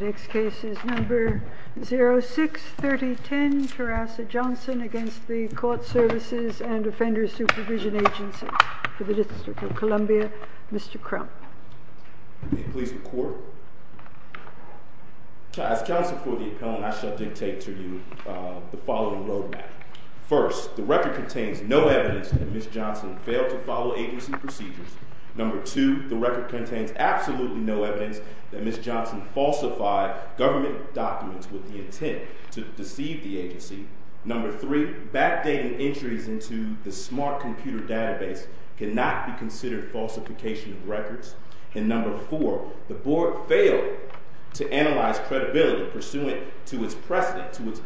The next case is number 063010, Terrassa Johnson against the Court Services and Defender Supervision Agency for the District of Columbia. Mr. Crump. May it please the Court. As counsel for the appellant, I shall dictate to you the following road map. First, the record contains no evidence that Ms. Johnson failed to follow agency procedures. Number two, the record contains absolutely no evidence that Ms. Johnson falsified government documents with the intent to deceive the agency. Number three, backdating entries into the smart computer database cannot be considered falsification of records. And number four, the Board failed to analyze credibility pursuant to its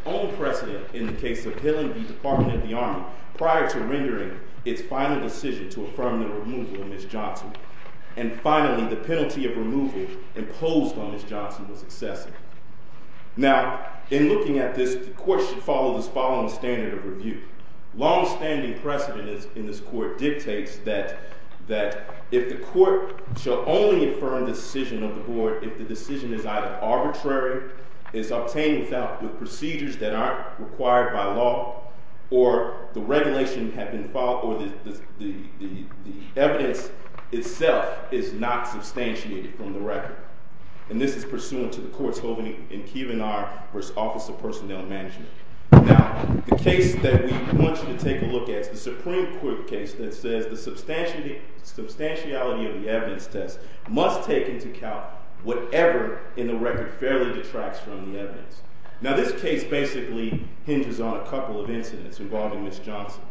own precedent in the case of Hillenby Department of the Army prior to rendering its final decision to affirm the removal of Ms. Johnson. And finally, the penalty of removal imposed on Ms. Johnson was excessive. Now, in looking at this, the Court should follow the following standard of review. Longstanding precedent in this Court dictates that if the Court shall only affirm the decision of the Board if the decision is either arbitrary, is obtained with procedures that aren't required by law, or the regulation had been followed, or the evidence itself is not substantiated from the record. And this is pursuant to the courts holding in Keevan R. v. Office of Personnel Management. Now, the case that we want you to take a look at is the Supreme Court case that says the substantiality of the evidence test must take into account whatever in the record fairly detracts from the evidence. Now, this case basically hinges on a couple of incidents involving Ms. Johnson.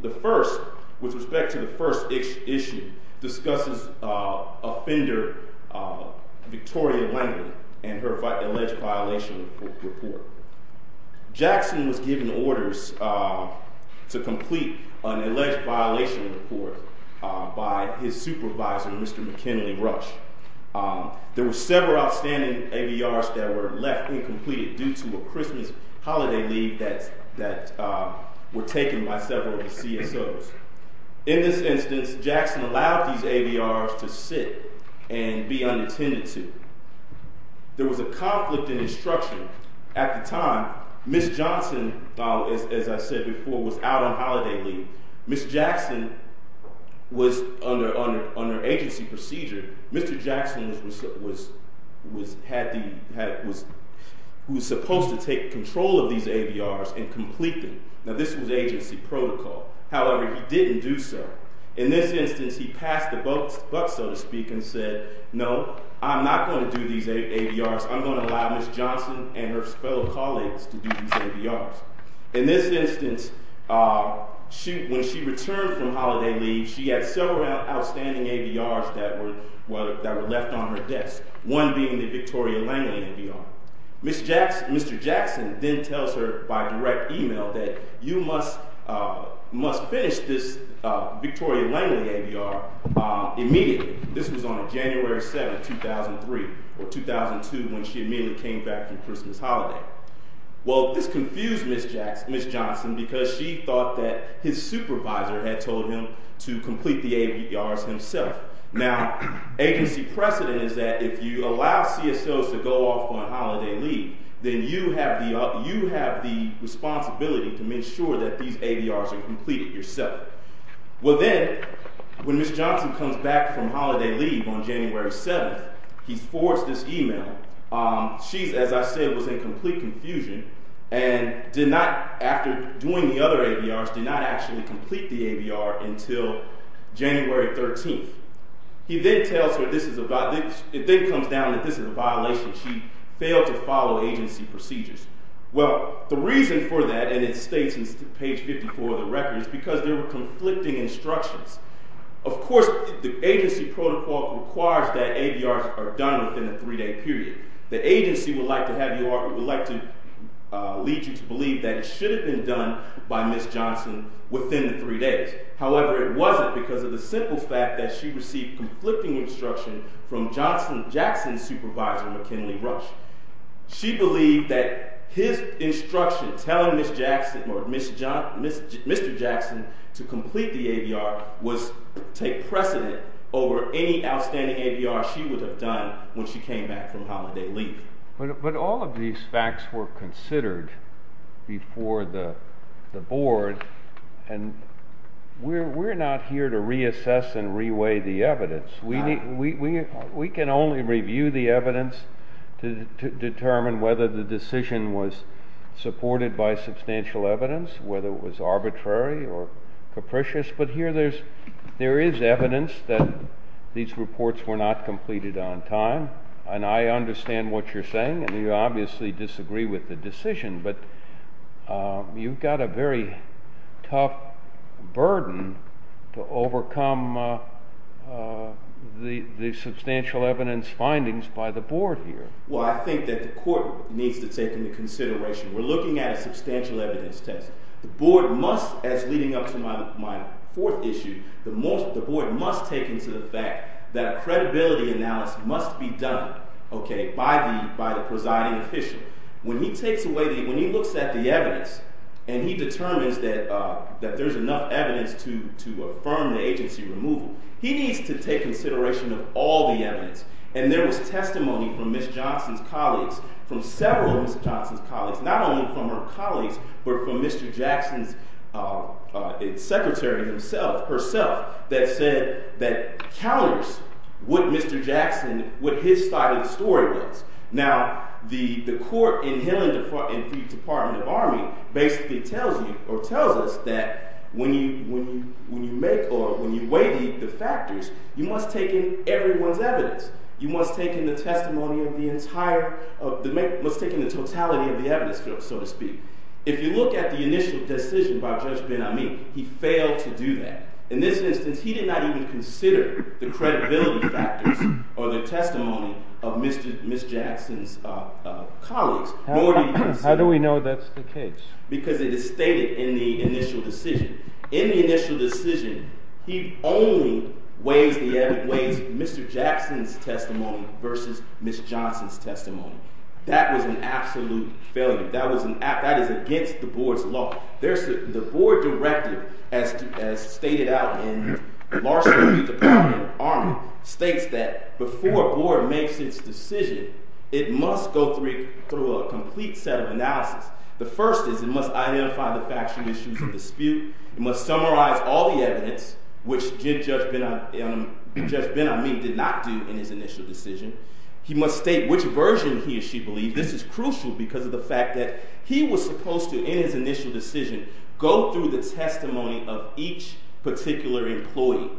The first, with respect to the first issue, discusses offender Victoria Langdon and her alleged violation report. Jackson was given orders to complete an alleged violation report by his supervisor, Mr. McKinley Rush. There were several outstanding ABRs that were left incomplete due to a Christmas holiday leave that were taken by several CSOs. In this instance, Jackson allowed these ABRs to sit and be unattended to. There was a conflict in instruction. At the time, Ms. Johnson, as I said before, was out on holiday leave. Ms. Jackson was under agency procedure. Mr. Jackson was supposed to take control of these ABRs and complete them. Now, this was agency protocol. However, he didn't do so. In this instance, he passed the buck, so to speak, and said, no, I'm not going to do these ABRs. I'm going to allow Ms. Johnson and her fellow colleagues to do these ABRs. In this instance, when she returned from holiday leave, she had several outstanding ABRs that were left on her desk, one being the Victoria Langdon ABR. Mr. Jackson then tells her by direct email that you must finish this Victoria Langdon ABR immediately. This was on January 7, 2003, or 2002, when she immediately came back from Christmas holiday. Well, this confused Ms. Johnson because she thought that his supervisor had told him to complete the ABRs himself. Now, agency precedent is that if you allow CSOs to go off on holiday leave, then you have the responsibility to make sure that these ABRs are completed yourself. Well, then, when Ms. Johnson comes back from holiday leave on January 7, he forwards this email. She, as I said, was in complete confusion and did not, after doing the other ABRs, did not actually complete the ABR until January 13. He then tells her this is a violation. She failed to follow agency procedures. Well, the reason for that, and it states in page 54 of the record, is because there were conflicting instructions. Of course, the agency protocol requires that ABRs are done within a three-day period. The agency would like to lead you to believe that it should have been done by Ms. Johnson within the three days. However, it wasn't because of the simple fact that she received conflicting instruction from Johnson Jackson's supervisor, McKinley Rush. She believed that his instruction, telling Mr. Jackson to complete the ABR, was to take precedent over any outstanding ABR she would have done when she came back from holiday leave. But all of these facts were considered before the board, and we're not here to reassess and reweigh the evidence. We can only review the evidence to determine whether the decision was supported by substantial evidence, whether it was arbitrary or capricious. But here there is evidence that these reports were not completed on time, and I understand what you're saying, and you obviously disagree with the decision. But you've got a very tough burden to overcome the substantial evidence findings by the board here. Well, I think that the court needs to take into consideration. We're looking at a substantial evidence test. The board must, as leading up to my fourth issue, the board must take into the fact that credibility analysis must be done by the presiding official. When he looks at the evidence and he determines that there's enough evidence to affirm the agency removal, he needs to take consideration of all the evidence. And there was testimony from Ms. Johnson's colleagues, from several of Ms. Johnson's colleagues, not only from her colleagues, but from Mr. Jackson's secretary herself, that said that counters what Mr. Jackson, what his side of the story was. Now, the court in the Department of Army basically tells you or tells us that when you make or when you weigh the factors, you must take in everyone's evidence. You must take in the testimony of the entire, must take in the totality of the evidence, so to speak. If you look at the initial decision by Judge Ben-Ami, he failed to do that. In this instance, he did not even consider the credibility factors or the testimony of Ms. Jackson's colleagues. How do we know that's the case? Because it is stated in the initial decision. In the initial decision, he only weighs the evidence, weighs Mr. Jackson's testimony versus Ms. Johnson's testimony. That was an absolute failure. That is against the board's law. The board directive, as stated out in Larson v. Department of Army, states that before a board makes its decision, it must go through a complete set of analysis. The first is it must identify the factual issues of dispute. It must summarize all the evidence, which Judge Ben-Ami did not do in his initial decision. He must state which version he or she believed. This is crucial because of the fact that he was supposed to, in his initial decision, go through the testimony of each particular employee.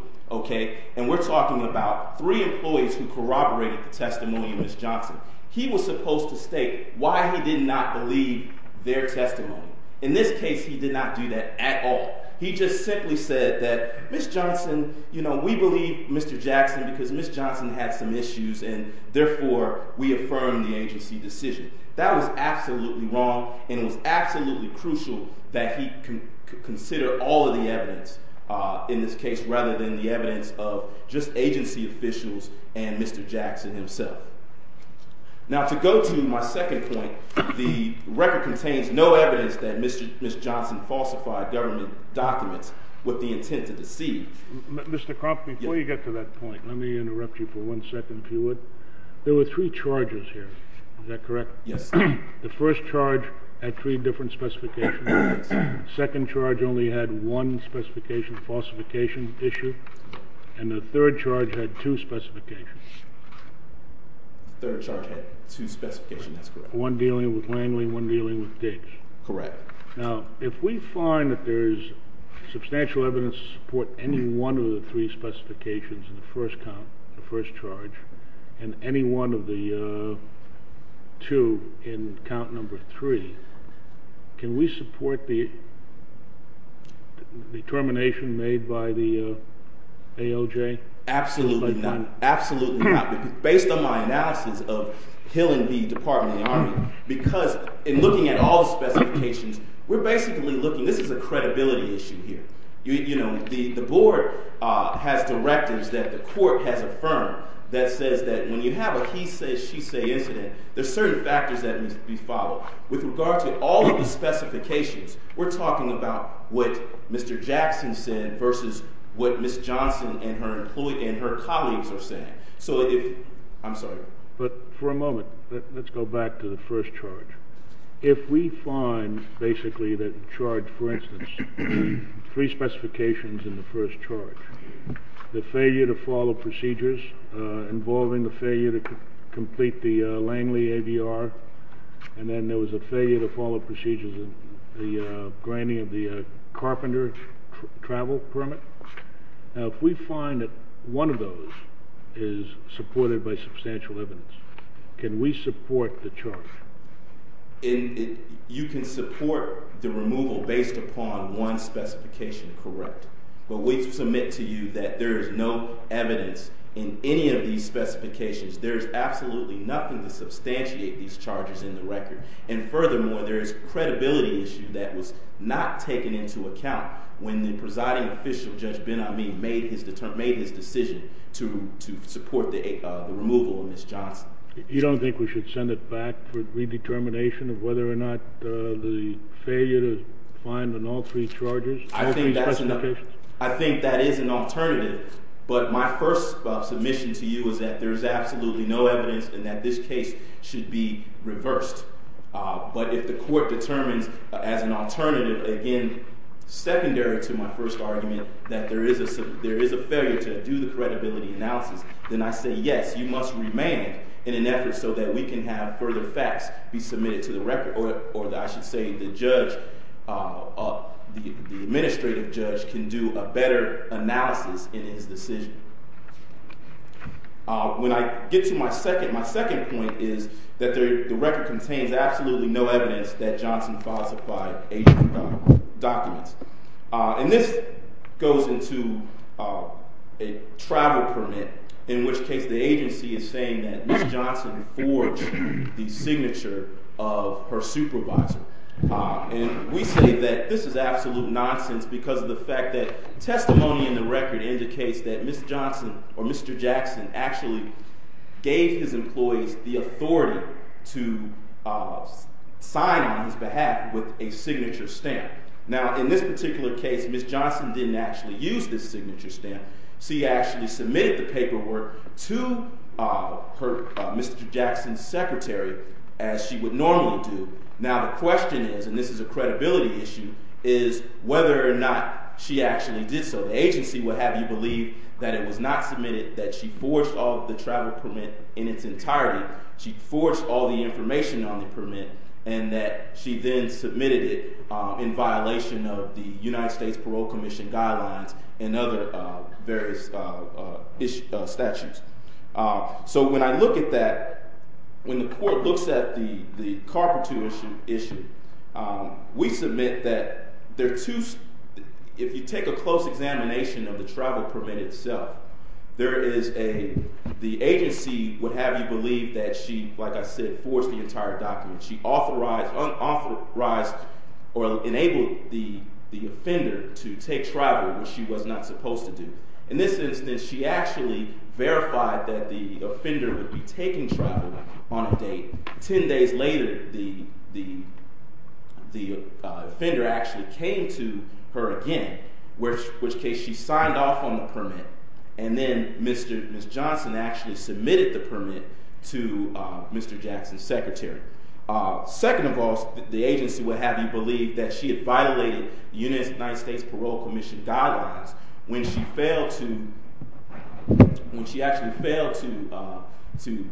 And we're talking about three employees who corroborated the testimony of Ms. Johnson. He was supposed to state why he did not believe their testimony. In this case, he did not do that at all. He just simply said that Ms. Johnson, you know, we believe Mr. Jackson because Ms. Johnson had some issues, and therefore, we affirm the agency decision. That was absolutely wrong, and it was absolutely crucial that he consider all of the evidence in this case rather than the evidence of just agency officials and Mr. Jackson himself. Now, to go to my second point, the record contains no evidence that Ms. Johnson falsified government documents with the intent to deceive. Mr. Croft, before you get to that point, let me interrupt you for one second, if you would. There were three charges here. Is that correct? Yes. The first charge had three different specifications. The second charge only had one specification, falsification issue, and the third charge had two specifications. The third charge had two specifications. That's correct. One dealing with Langley, one dealing with Diggs. Correct. Now, if we find that there's substantial evidence to support any one of the three specifications in the first count, the first charge, and any one of the two in count number three, can we support the determination made by the AOJ? Absolutely not. Absolutely not. Based on my analysis of Hill and Bee Department of the Army, because in looking at all the specifications, we're basically looking – this is a credibility issue here. You know, the board has directives that the court has affirmed that says that when you have a he says, she says incident, there's certain factors that need to be followed. With regard to all of the specifications, we're talking about what Mr. Jackson said versus what Ms. Johnson and her colleagues are saying. I'm sorry. But for a moment, let's go back to the first charge. If we find, basically, that charge, for instance, three specifications in the first charge, the failure to follow procedures involving the failure to complete the Langley AVR, and then there was a failure to follow procedures in the granting of the carpenter travel permit, if we find that one of those is supported by substantial evidence, can we support the charge? You can support the removal based upon one specification, correct. But we submit to you that there is no evidence in any of these specifications. There is absolutely nothing to substantiate these charges in the record. And furthermore, there is a credibility issue that was not taken into account when the presiding official, Judge Ben-Ami, made his decision to support the removal of Ms. Johnson. You don't think we should send it back for redetermination of whether or not the failure to find on all three charges? I think that is an alternative. But my first submission to you is that there is absolutely no evidence and that this case should be reversed. But if the court determines, as an alternative, again, secondary to my first argument, that there is a failure to do the credibility analysis, then I say, yes, you must remain in an effort so that we can have further facts be submitted to the record. Or I should say the judge, the administrative judge, can do a better analysis in his decision. When I get to my second, my second point is that the record contains absolutely no evidence that Johnson falsified agent documents. And this goes into a travel permit, in which case the agency is saying that Ms. Johnson forged the signature of her supervisor. And we say that this is absolute nonsense because of the fact that testimony in the record indicates that Ms. Johnson or Mr. Jackson actually gave his employees the authority to sign on his behalf with a signature stamp. Now, in this particular case, Ms. Johnson didn't actually use this signature stamp. She actually submitted the paperwork to Mr. Jackson's secretary as she would normally do. Now, the question is, and this is a credibility issue, is whether or not she actually did so. The agency would have you believe that it was not submitted, that she forged the travel permit in its entirety. She forged all the information on the permit and that she then submitted it in violation of the United States Parole Commission guidelines and other various statutes. So when I look at that, when the court looks at the Carpintero issue, we submit that there are two—if you take a close examination of the travel permit itself, there is a— the agency would have you believe that she, like I said, forged the entire document. She authorized—unauthorized or enabled the offender to take travel, which she was not supposed to do. In this instance, she actually verified that the offender would be taking travel on a date. Ten days later, the offender actually came to her again, which case she signed off on the permit, and then Ms. Johnson actually submitted the permit to Mr. Jackson's secretary. Second of all, the agency would have you believe that she had violated United States Parole Commission guidelines when she failed to—when she actually failed to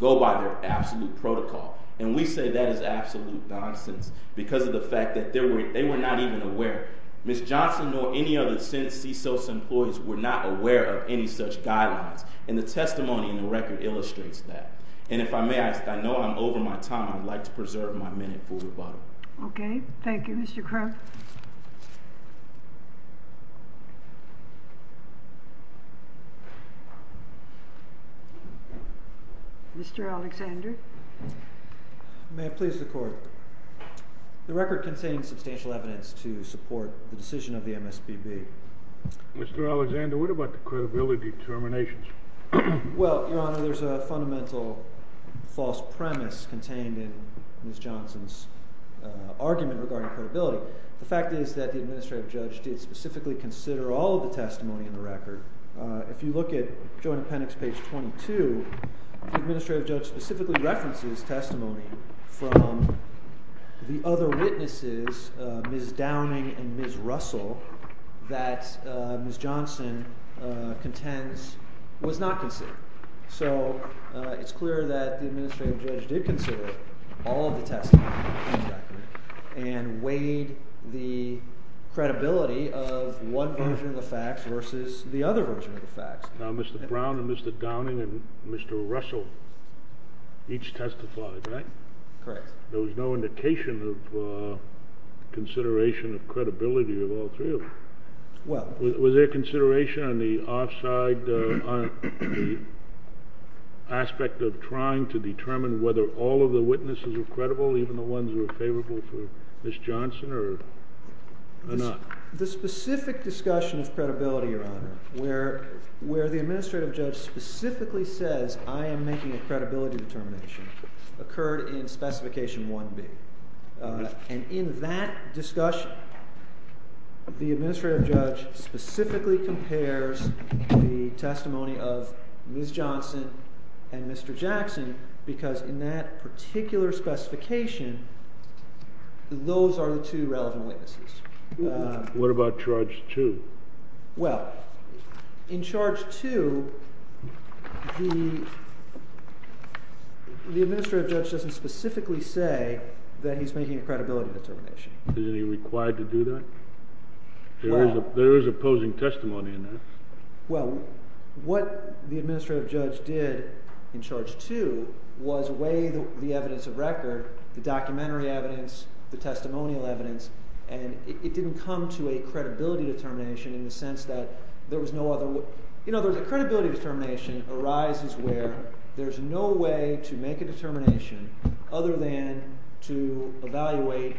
go by their absolute protocol. And we say that is absolute nonsense because of the fact that they were not even aware. Ms. Johnson nor any of the CISOS employees were not aware of any such guidelines, and the testimony in the record illustrates that. And if I may, I know I'm over my time. I'd like to preserve my minute for rebuttal. Okay. Thank you, Mr. Crump. Mr. Alexander. May I please the Court? The record contains substantial evidence to support the decision of the MSPB. Mr. Alexander, what about the credibility determinations? Well, Your Honor, there's a fundamental false premise contained in Ms. Johnson's argument regarding credibility. The fact is that the administrative judge did specifically consider all of the testimony in the record. If you look at Joint Appendix page 22, the administrative judge specifically references testimony from the other witnesses, Ms. Downing and Ms. Russell, that Ms. Johnson contends was not considered. So it's clear that the administrative judge did consider all of the testimony in the record and weighed the credibility of one version of the facts versus the other version of the facts. Now, Mr. Brown and Mr. Downing and Mr. Russell each testified, right? Correct. There was no indication of consideration of credibility of all three of them. Was there consideration on the aspect of trying to determine whether all of the witnesses were credible, even the ones who were favorable for Ms. Johnson or not? The specific discussion of credibility, Your Honor, where the administrative judge specifically says, I am making a credibility determination, occurred in Specification 1B. And in that discussion, the administrative judge specifically compares the testimony of Ms. Johnson and Mr. Jackson because in that particular specification, those are the two relevant witnesses. What about Charge 2? Well, in Charge 2, the administrative judge doesn't specifically say that he's making a credibility determination. Is he required to do that? There is opposing testimony in that. Well, what the administrative judge did in Charge 2 was weigh the evidence of record, the documentary evidence, the testimonial evidence, and it didn't come to a credibility determination in the sense that there was no other way. You know, the credibility determination arises where there's no way to make a determination other than to evaluate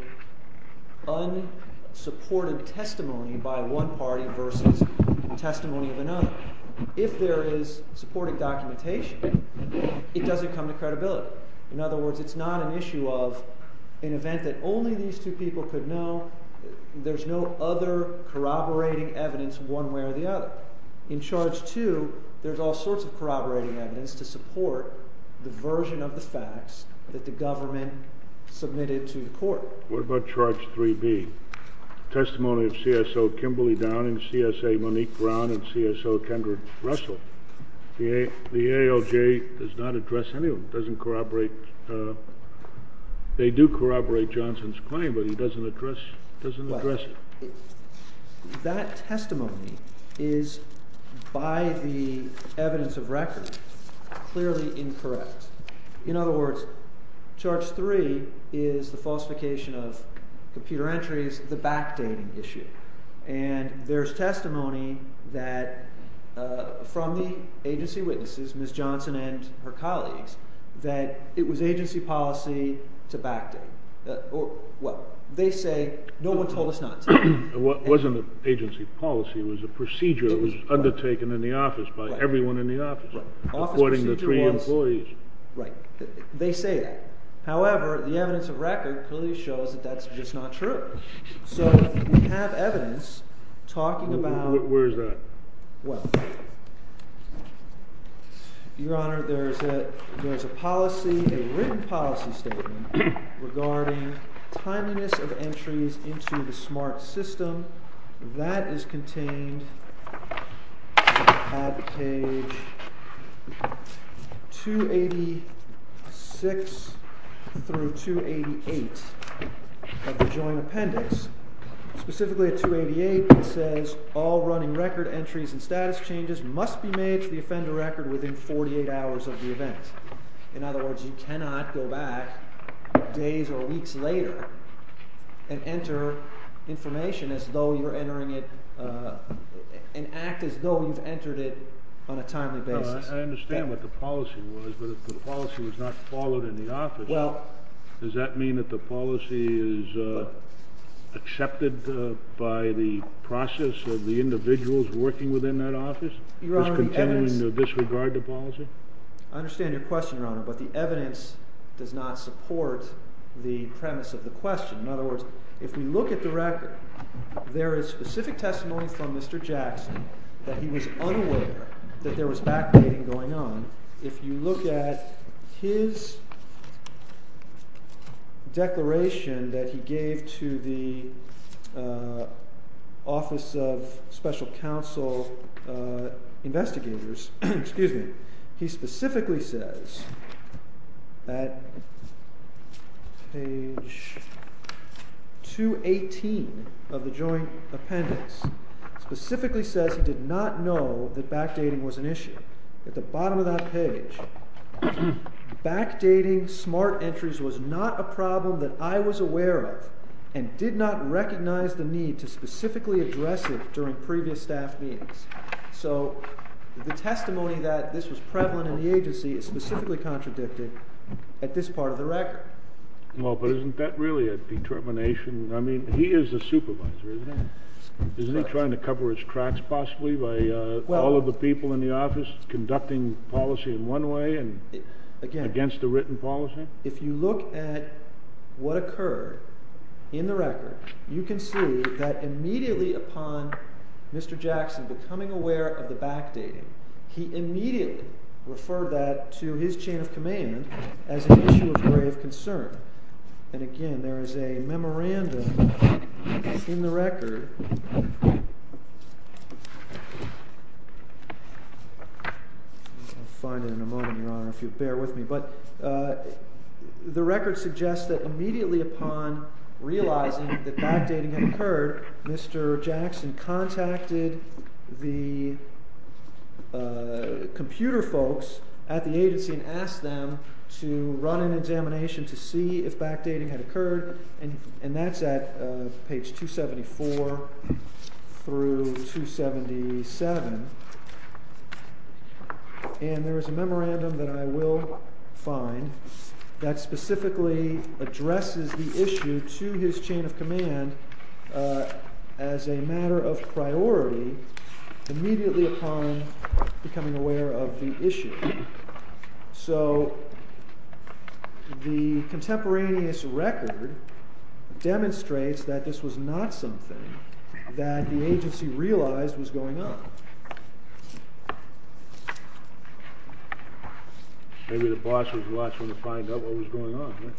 unsupported testimony by one party versus testimony of another. If there is supported documentation, it doesn't come to credibility. In other words, it's not an issue of an event that only these two people could know. There's no other corroborating evidence one way or the other. In Charge 2, there's all sorts of corroborating evidence to support the version of the facts that the government submitted to the court. What about Charge 3B? Testimony of CSO Kimberly Downing, CSA Monique Brown, and CSO Kendra Russell. The ALJ does not address any of them. It doesn't corroborate. They do corroborate Johnson's claim, but he doesn't address it. That testimony is, by the evidence of record, clearly incorrect. In other words, Charge 3 is the falsification of computer entries, the backdating issue. And there's testimony that from the agency witnesses, Ms. Johnson and her colleagues, that it was agency policy to backdate. They say, no one told us not to. It wasn't agency policy. It was a procedure that was undertaken in the office by everyone in the office, according to three employees. Right. They say that. However, the evidence of record clearly shows that that's just not true. So we have evidence talking about... Where is that? What? Your Honor, there is a policy, a written policy statement, regarding timeliness of entries into the SMART system. That is contained at page 286 through 288 of the Joint Appendix. Specifically at 288, it says, all running record entries and status changes must be made to the offender record within 48 hours of the event. In other words, you cannot go back days or weeks later and enter information as though you're entering it, and act as though you've entered it on a timely basis. I understand what the policy was, but if the policy was not followed in the office, does that mean that the policy is accepted by the process of the individuals working within that office? Your Honor, the evidence... Is continuing to disregard the policy? I understand your question, Your Honor, but the evidence does not support the premise of the question. In other words, if we look at the record, there is specific testimony from Mr. Jackson that he was unaware that there was backbiting going on. If you look at his declaration that he gave to the Office of Special Counsel Investigators, he specifically says at page 218 of the Joint Appendix, specifically says he did not know that backdating was an issue. At the bottom of that page, backdating smart entries was not a problem that I was aware of, and did not recognize the need to specifically address it during previous staff meetings. So, the testimony that this was prevalent in the agency is specifically contradicted at this part of the record. Well, but isn't that really a determination? I mean, he is the supervisor, isn't he? Isn't he trying to cover his tracks, possibly, by all of the people in the office conducting policy in one way and against the written policy? If you look at what occurred in the record, you can see that immediately upon Mr. Jackson becoming aware of the backdating, he immediately referred that to his chain of command as an issue of grave concern. And again, there is a memorandum in the record. I'll find it in a moment, Your Honor, if you'll bear with me. But the record suggests that immediately upon realizing that backdating had occurred, Mr. Jackson contacted the computer folks at the agency and asked them to run an examination to see if backdating had occurred. And that's at page 274 through 277. And there is a memorandum that I will find that specifically addresses the issue to his chain of command as a matter of priority immediately upon becoming aware of the issue. So the contemporaneous record demonstrates that this was not something that the agency realized was going on. Maybe the boss was watching to find out what was going on, right?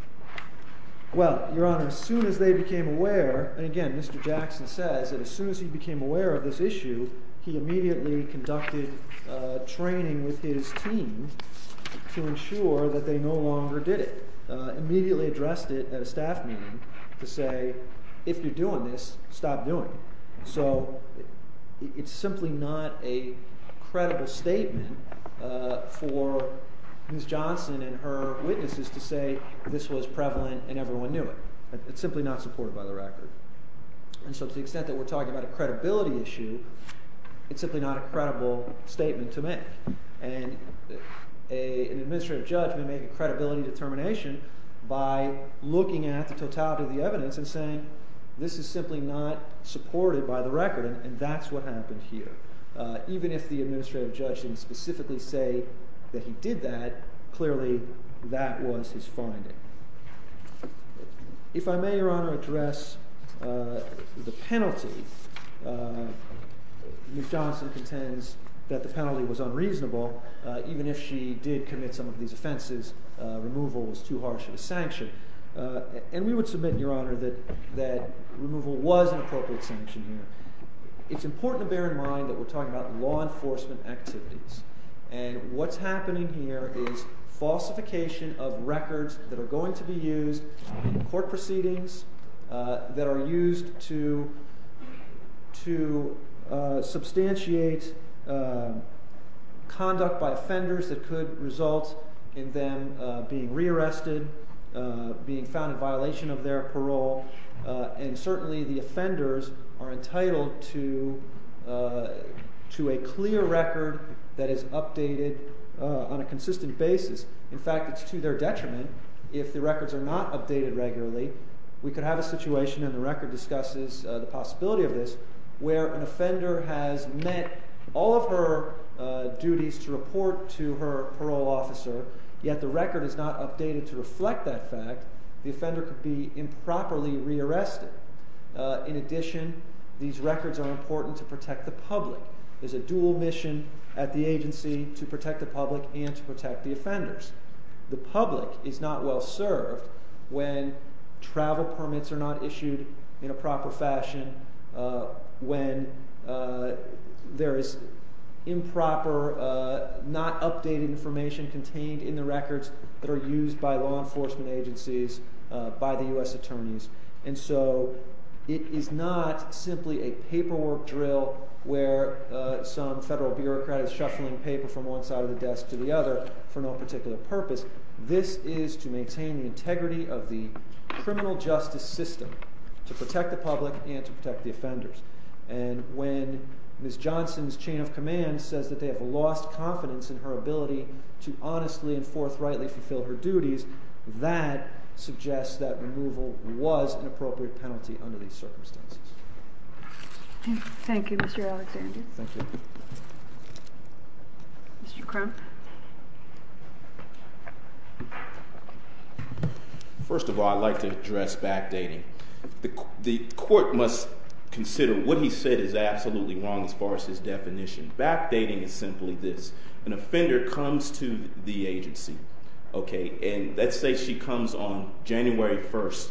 Well, Your Honor, as soon as they became aware, and again, Mr. Jackson says that as soon as he became aware of this issue, he immediately conducted training with his team to ensure that they no longer did it. He immediately addressed it at a staff meeting to say, if you're doing this, stop doing it. So it's simply not a credible statement for Ms. Johnson and her witnesses to say this was prevalent and everyone knew it. It's simply not supported by the record. And so to the extent that we're talking about a credibility issue, it's simply not a credible statement to make. And an administrative judge may make a credibility determination by looking at the totality of the evidence and saying this is simply not supported by the record and that's what happened here. Even if the administrative judge didn't specifically say that he did that, clearly that was his finding. If I may, Your Honor, address the penalty. Ms. Johnson contends that the penalty was unreasonable even if she did commit some of these offenses. Removal was too harsh of a sanction. And we would submit, Your Honor, that removal was an appropriate sanction here. It's important to bear in mind that we're talking about law enforcement activities. And what's happening here is falsification of records that are going to be used in court proceedings that are used to substantiate conduct by offenders that could result in them being rearrested, being found in violation of their parole. And certainly the offenders are entitled to a clear record that is updated on a consistent basis. In fact, it's to their detriment if the records are not updated regularly. We could have a situation, and the record discusses the possibility of this, where an offender has met all of her duties to report to her parole officer, yet the record is not updated to reflect that fact, the offender could be improperly rearrested. In addition, these records are important to protect the public. There's a dual mission at the agency to protect the public and to protect the offenders. The public is not well served when travel permits are not issued in a proper fashion, when there is improper, not updated information contained in the records that are used by law enforcement agencies, by the U.S. attorneys. And so it is not simply a paperwork drill where some federal bureaucrat is shuffling paper from one side of the desk to the other for no particular purpose. This is to maintain the integrity of the criminal justice system to protect the public and to protect the offenders. And when Ms. Johnson's chain of command says that they have lost confidence in her ability to honestly and forthrightly fulfill her duties, that suggests that removal was an appropriate penalty under these circumstances. Thank you, Mr. Alexander. Thank you. Mr. Crump. First of all, I'd like to address backdating. The court must consider what he said is absolutely wrong as far as his definition. Backdating is simply this, an offender comes to the agency, okay, and let's say she comes on January 1st,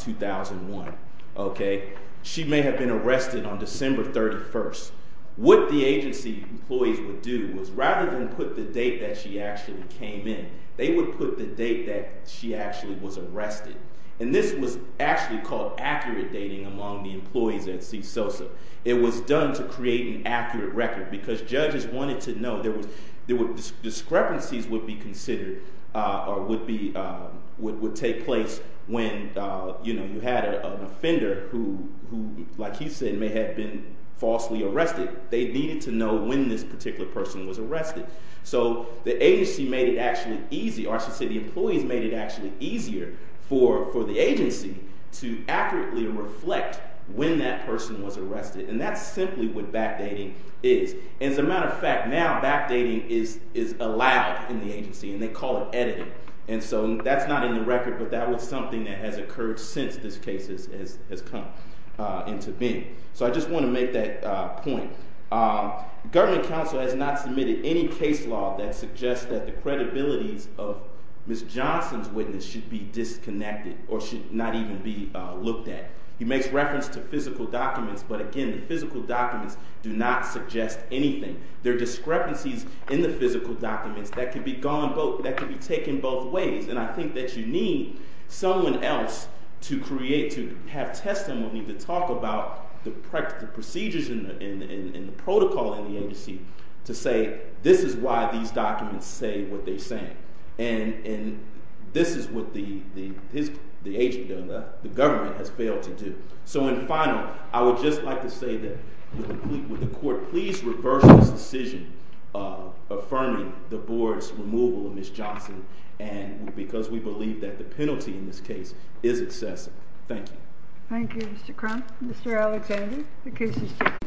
2001, okay, she may have been arrested on December 31st. What the agency employees would do is rather than put the date that she actually came in, they would put the date that she actually was arrested. And this was actually called accurate dating among the employees at CSOSA. It was done to create an accurate record because judges wanted to know, discrepancies would be considered or would take place when you had an offender who, like he said, may have been falsely arrested. They needed to know when this particular person was arrested. So the agency made it actually easy, or I should say the employees made it actually easier for the agency to accurately reflect when that person was arrested. And that's simply what backdating is. As a matter of fact, now backdating is allowed in the agency and they call it editing. And so that's not in the record, but that was something that has occurred since this case has come into being. So I just want to make that point. Government counsel has not submitted any case law that suggests that the credibility of Ms. Johnson's witness should be disconnected or should not even be looked at. He makes reference to physical documents, but again, the physical documents do not suggest anything. There are discrepancies in the physical documents that can be taken both ways. And I think that you need someone else to create, to have testimony, to talk about the procedures and the protocol in the agency to say, this is why these documents say what they're saying. And this is what the government has failed to do. So in final, I would just like to say that would the court please reverse this decision of affirming the board's removal of Ms. Johnson because we believe that the penalty in this case is excessive. Thank you. Thank you, Mr. Crump. Mr. Alexander, the case is dismissed.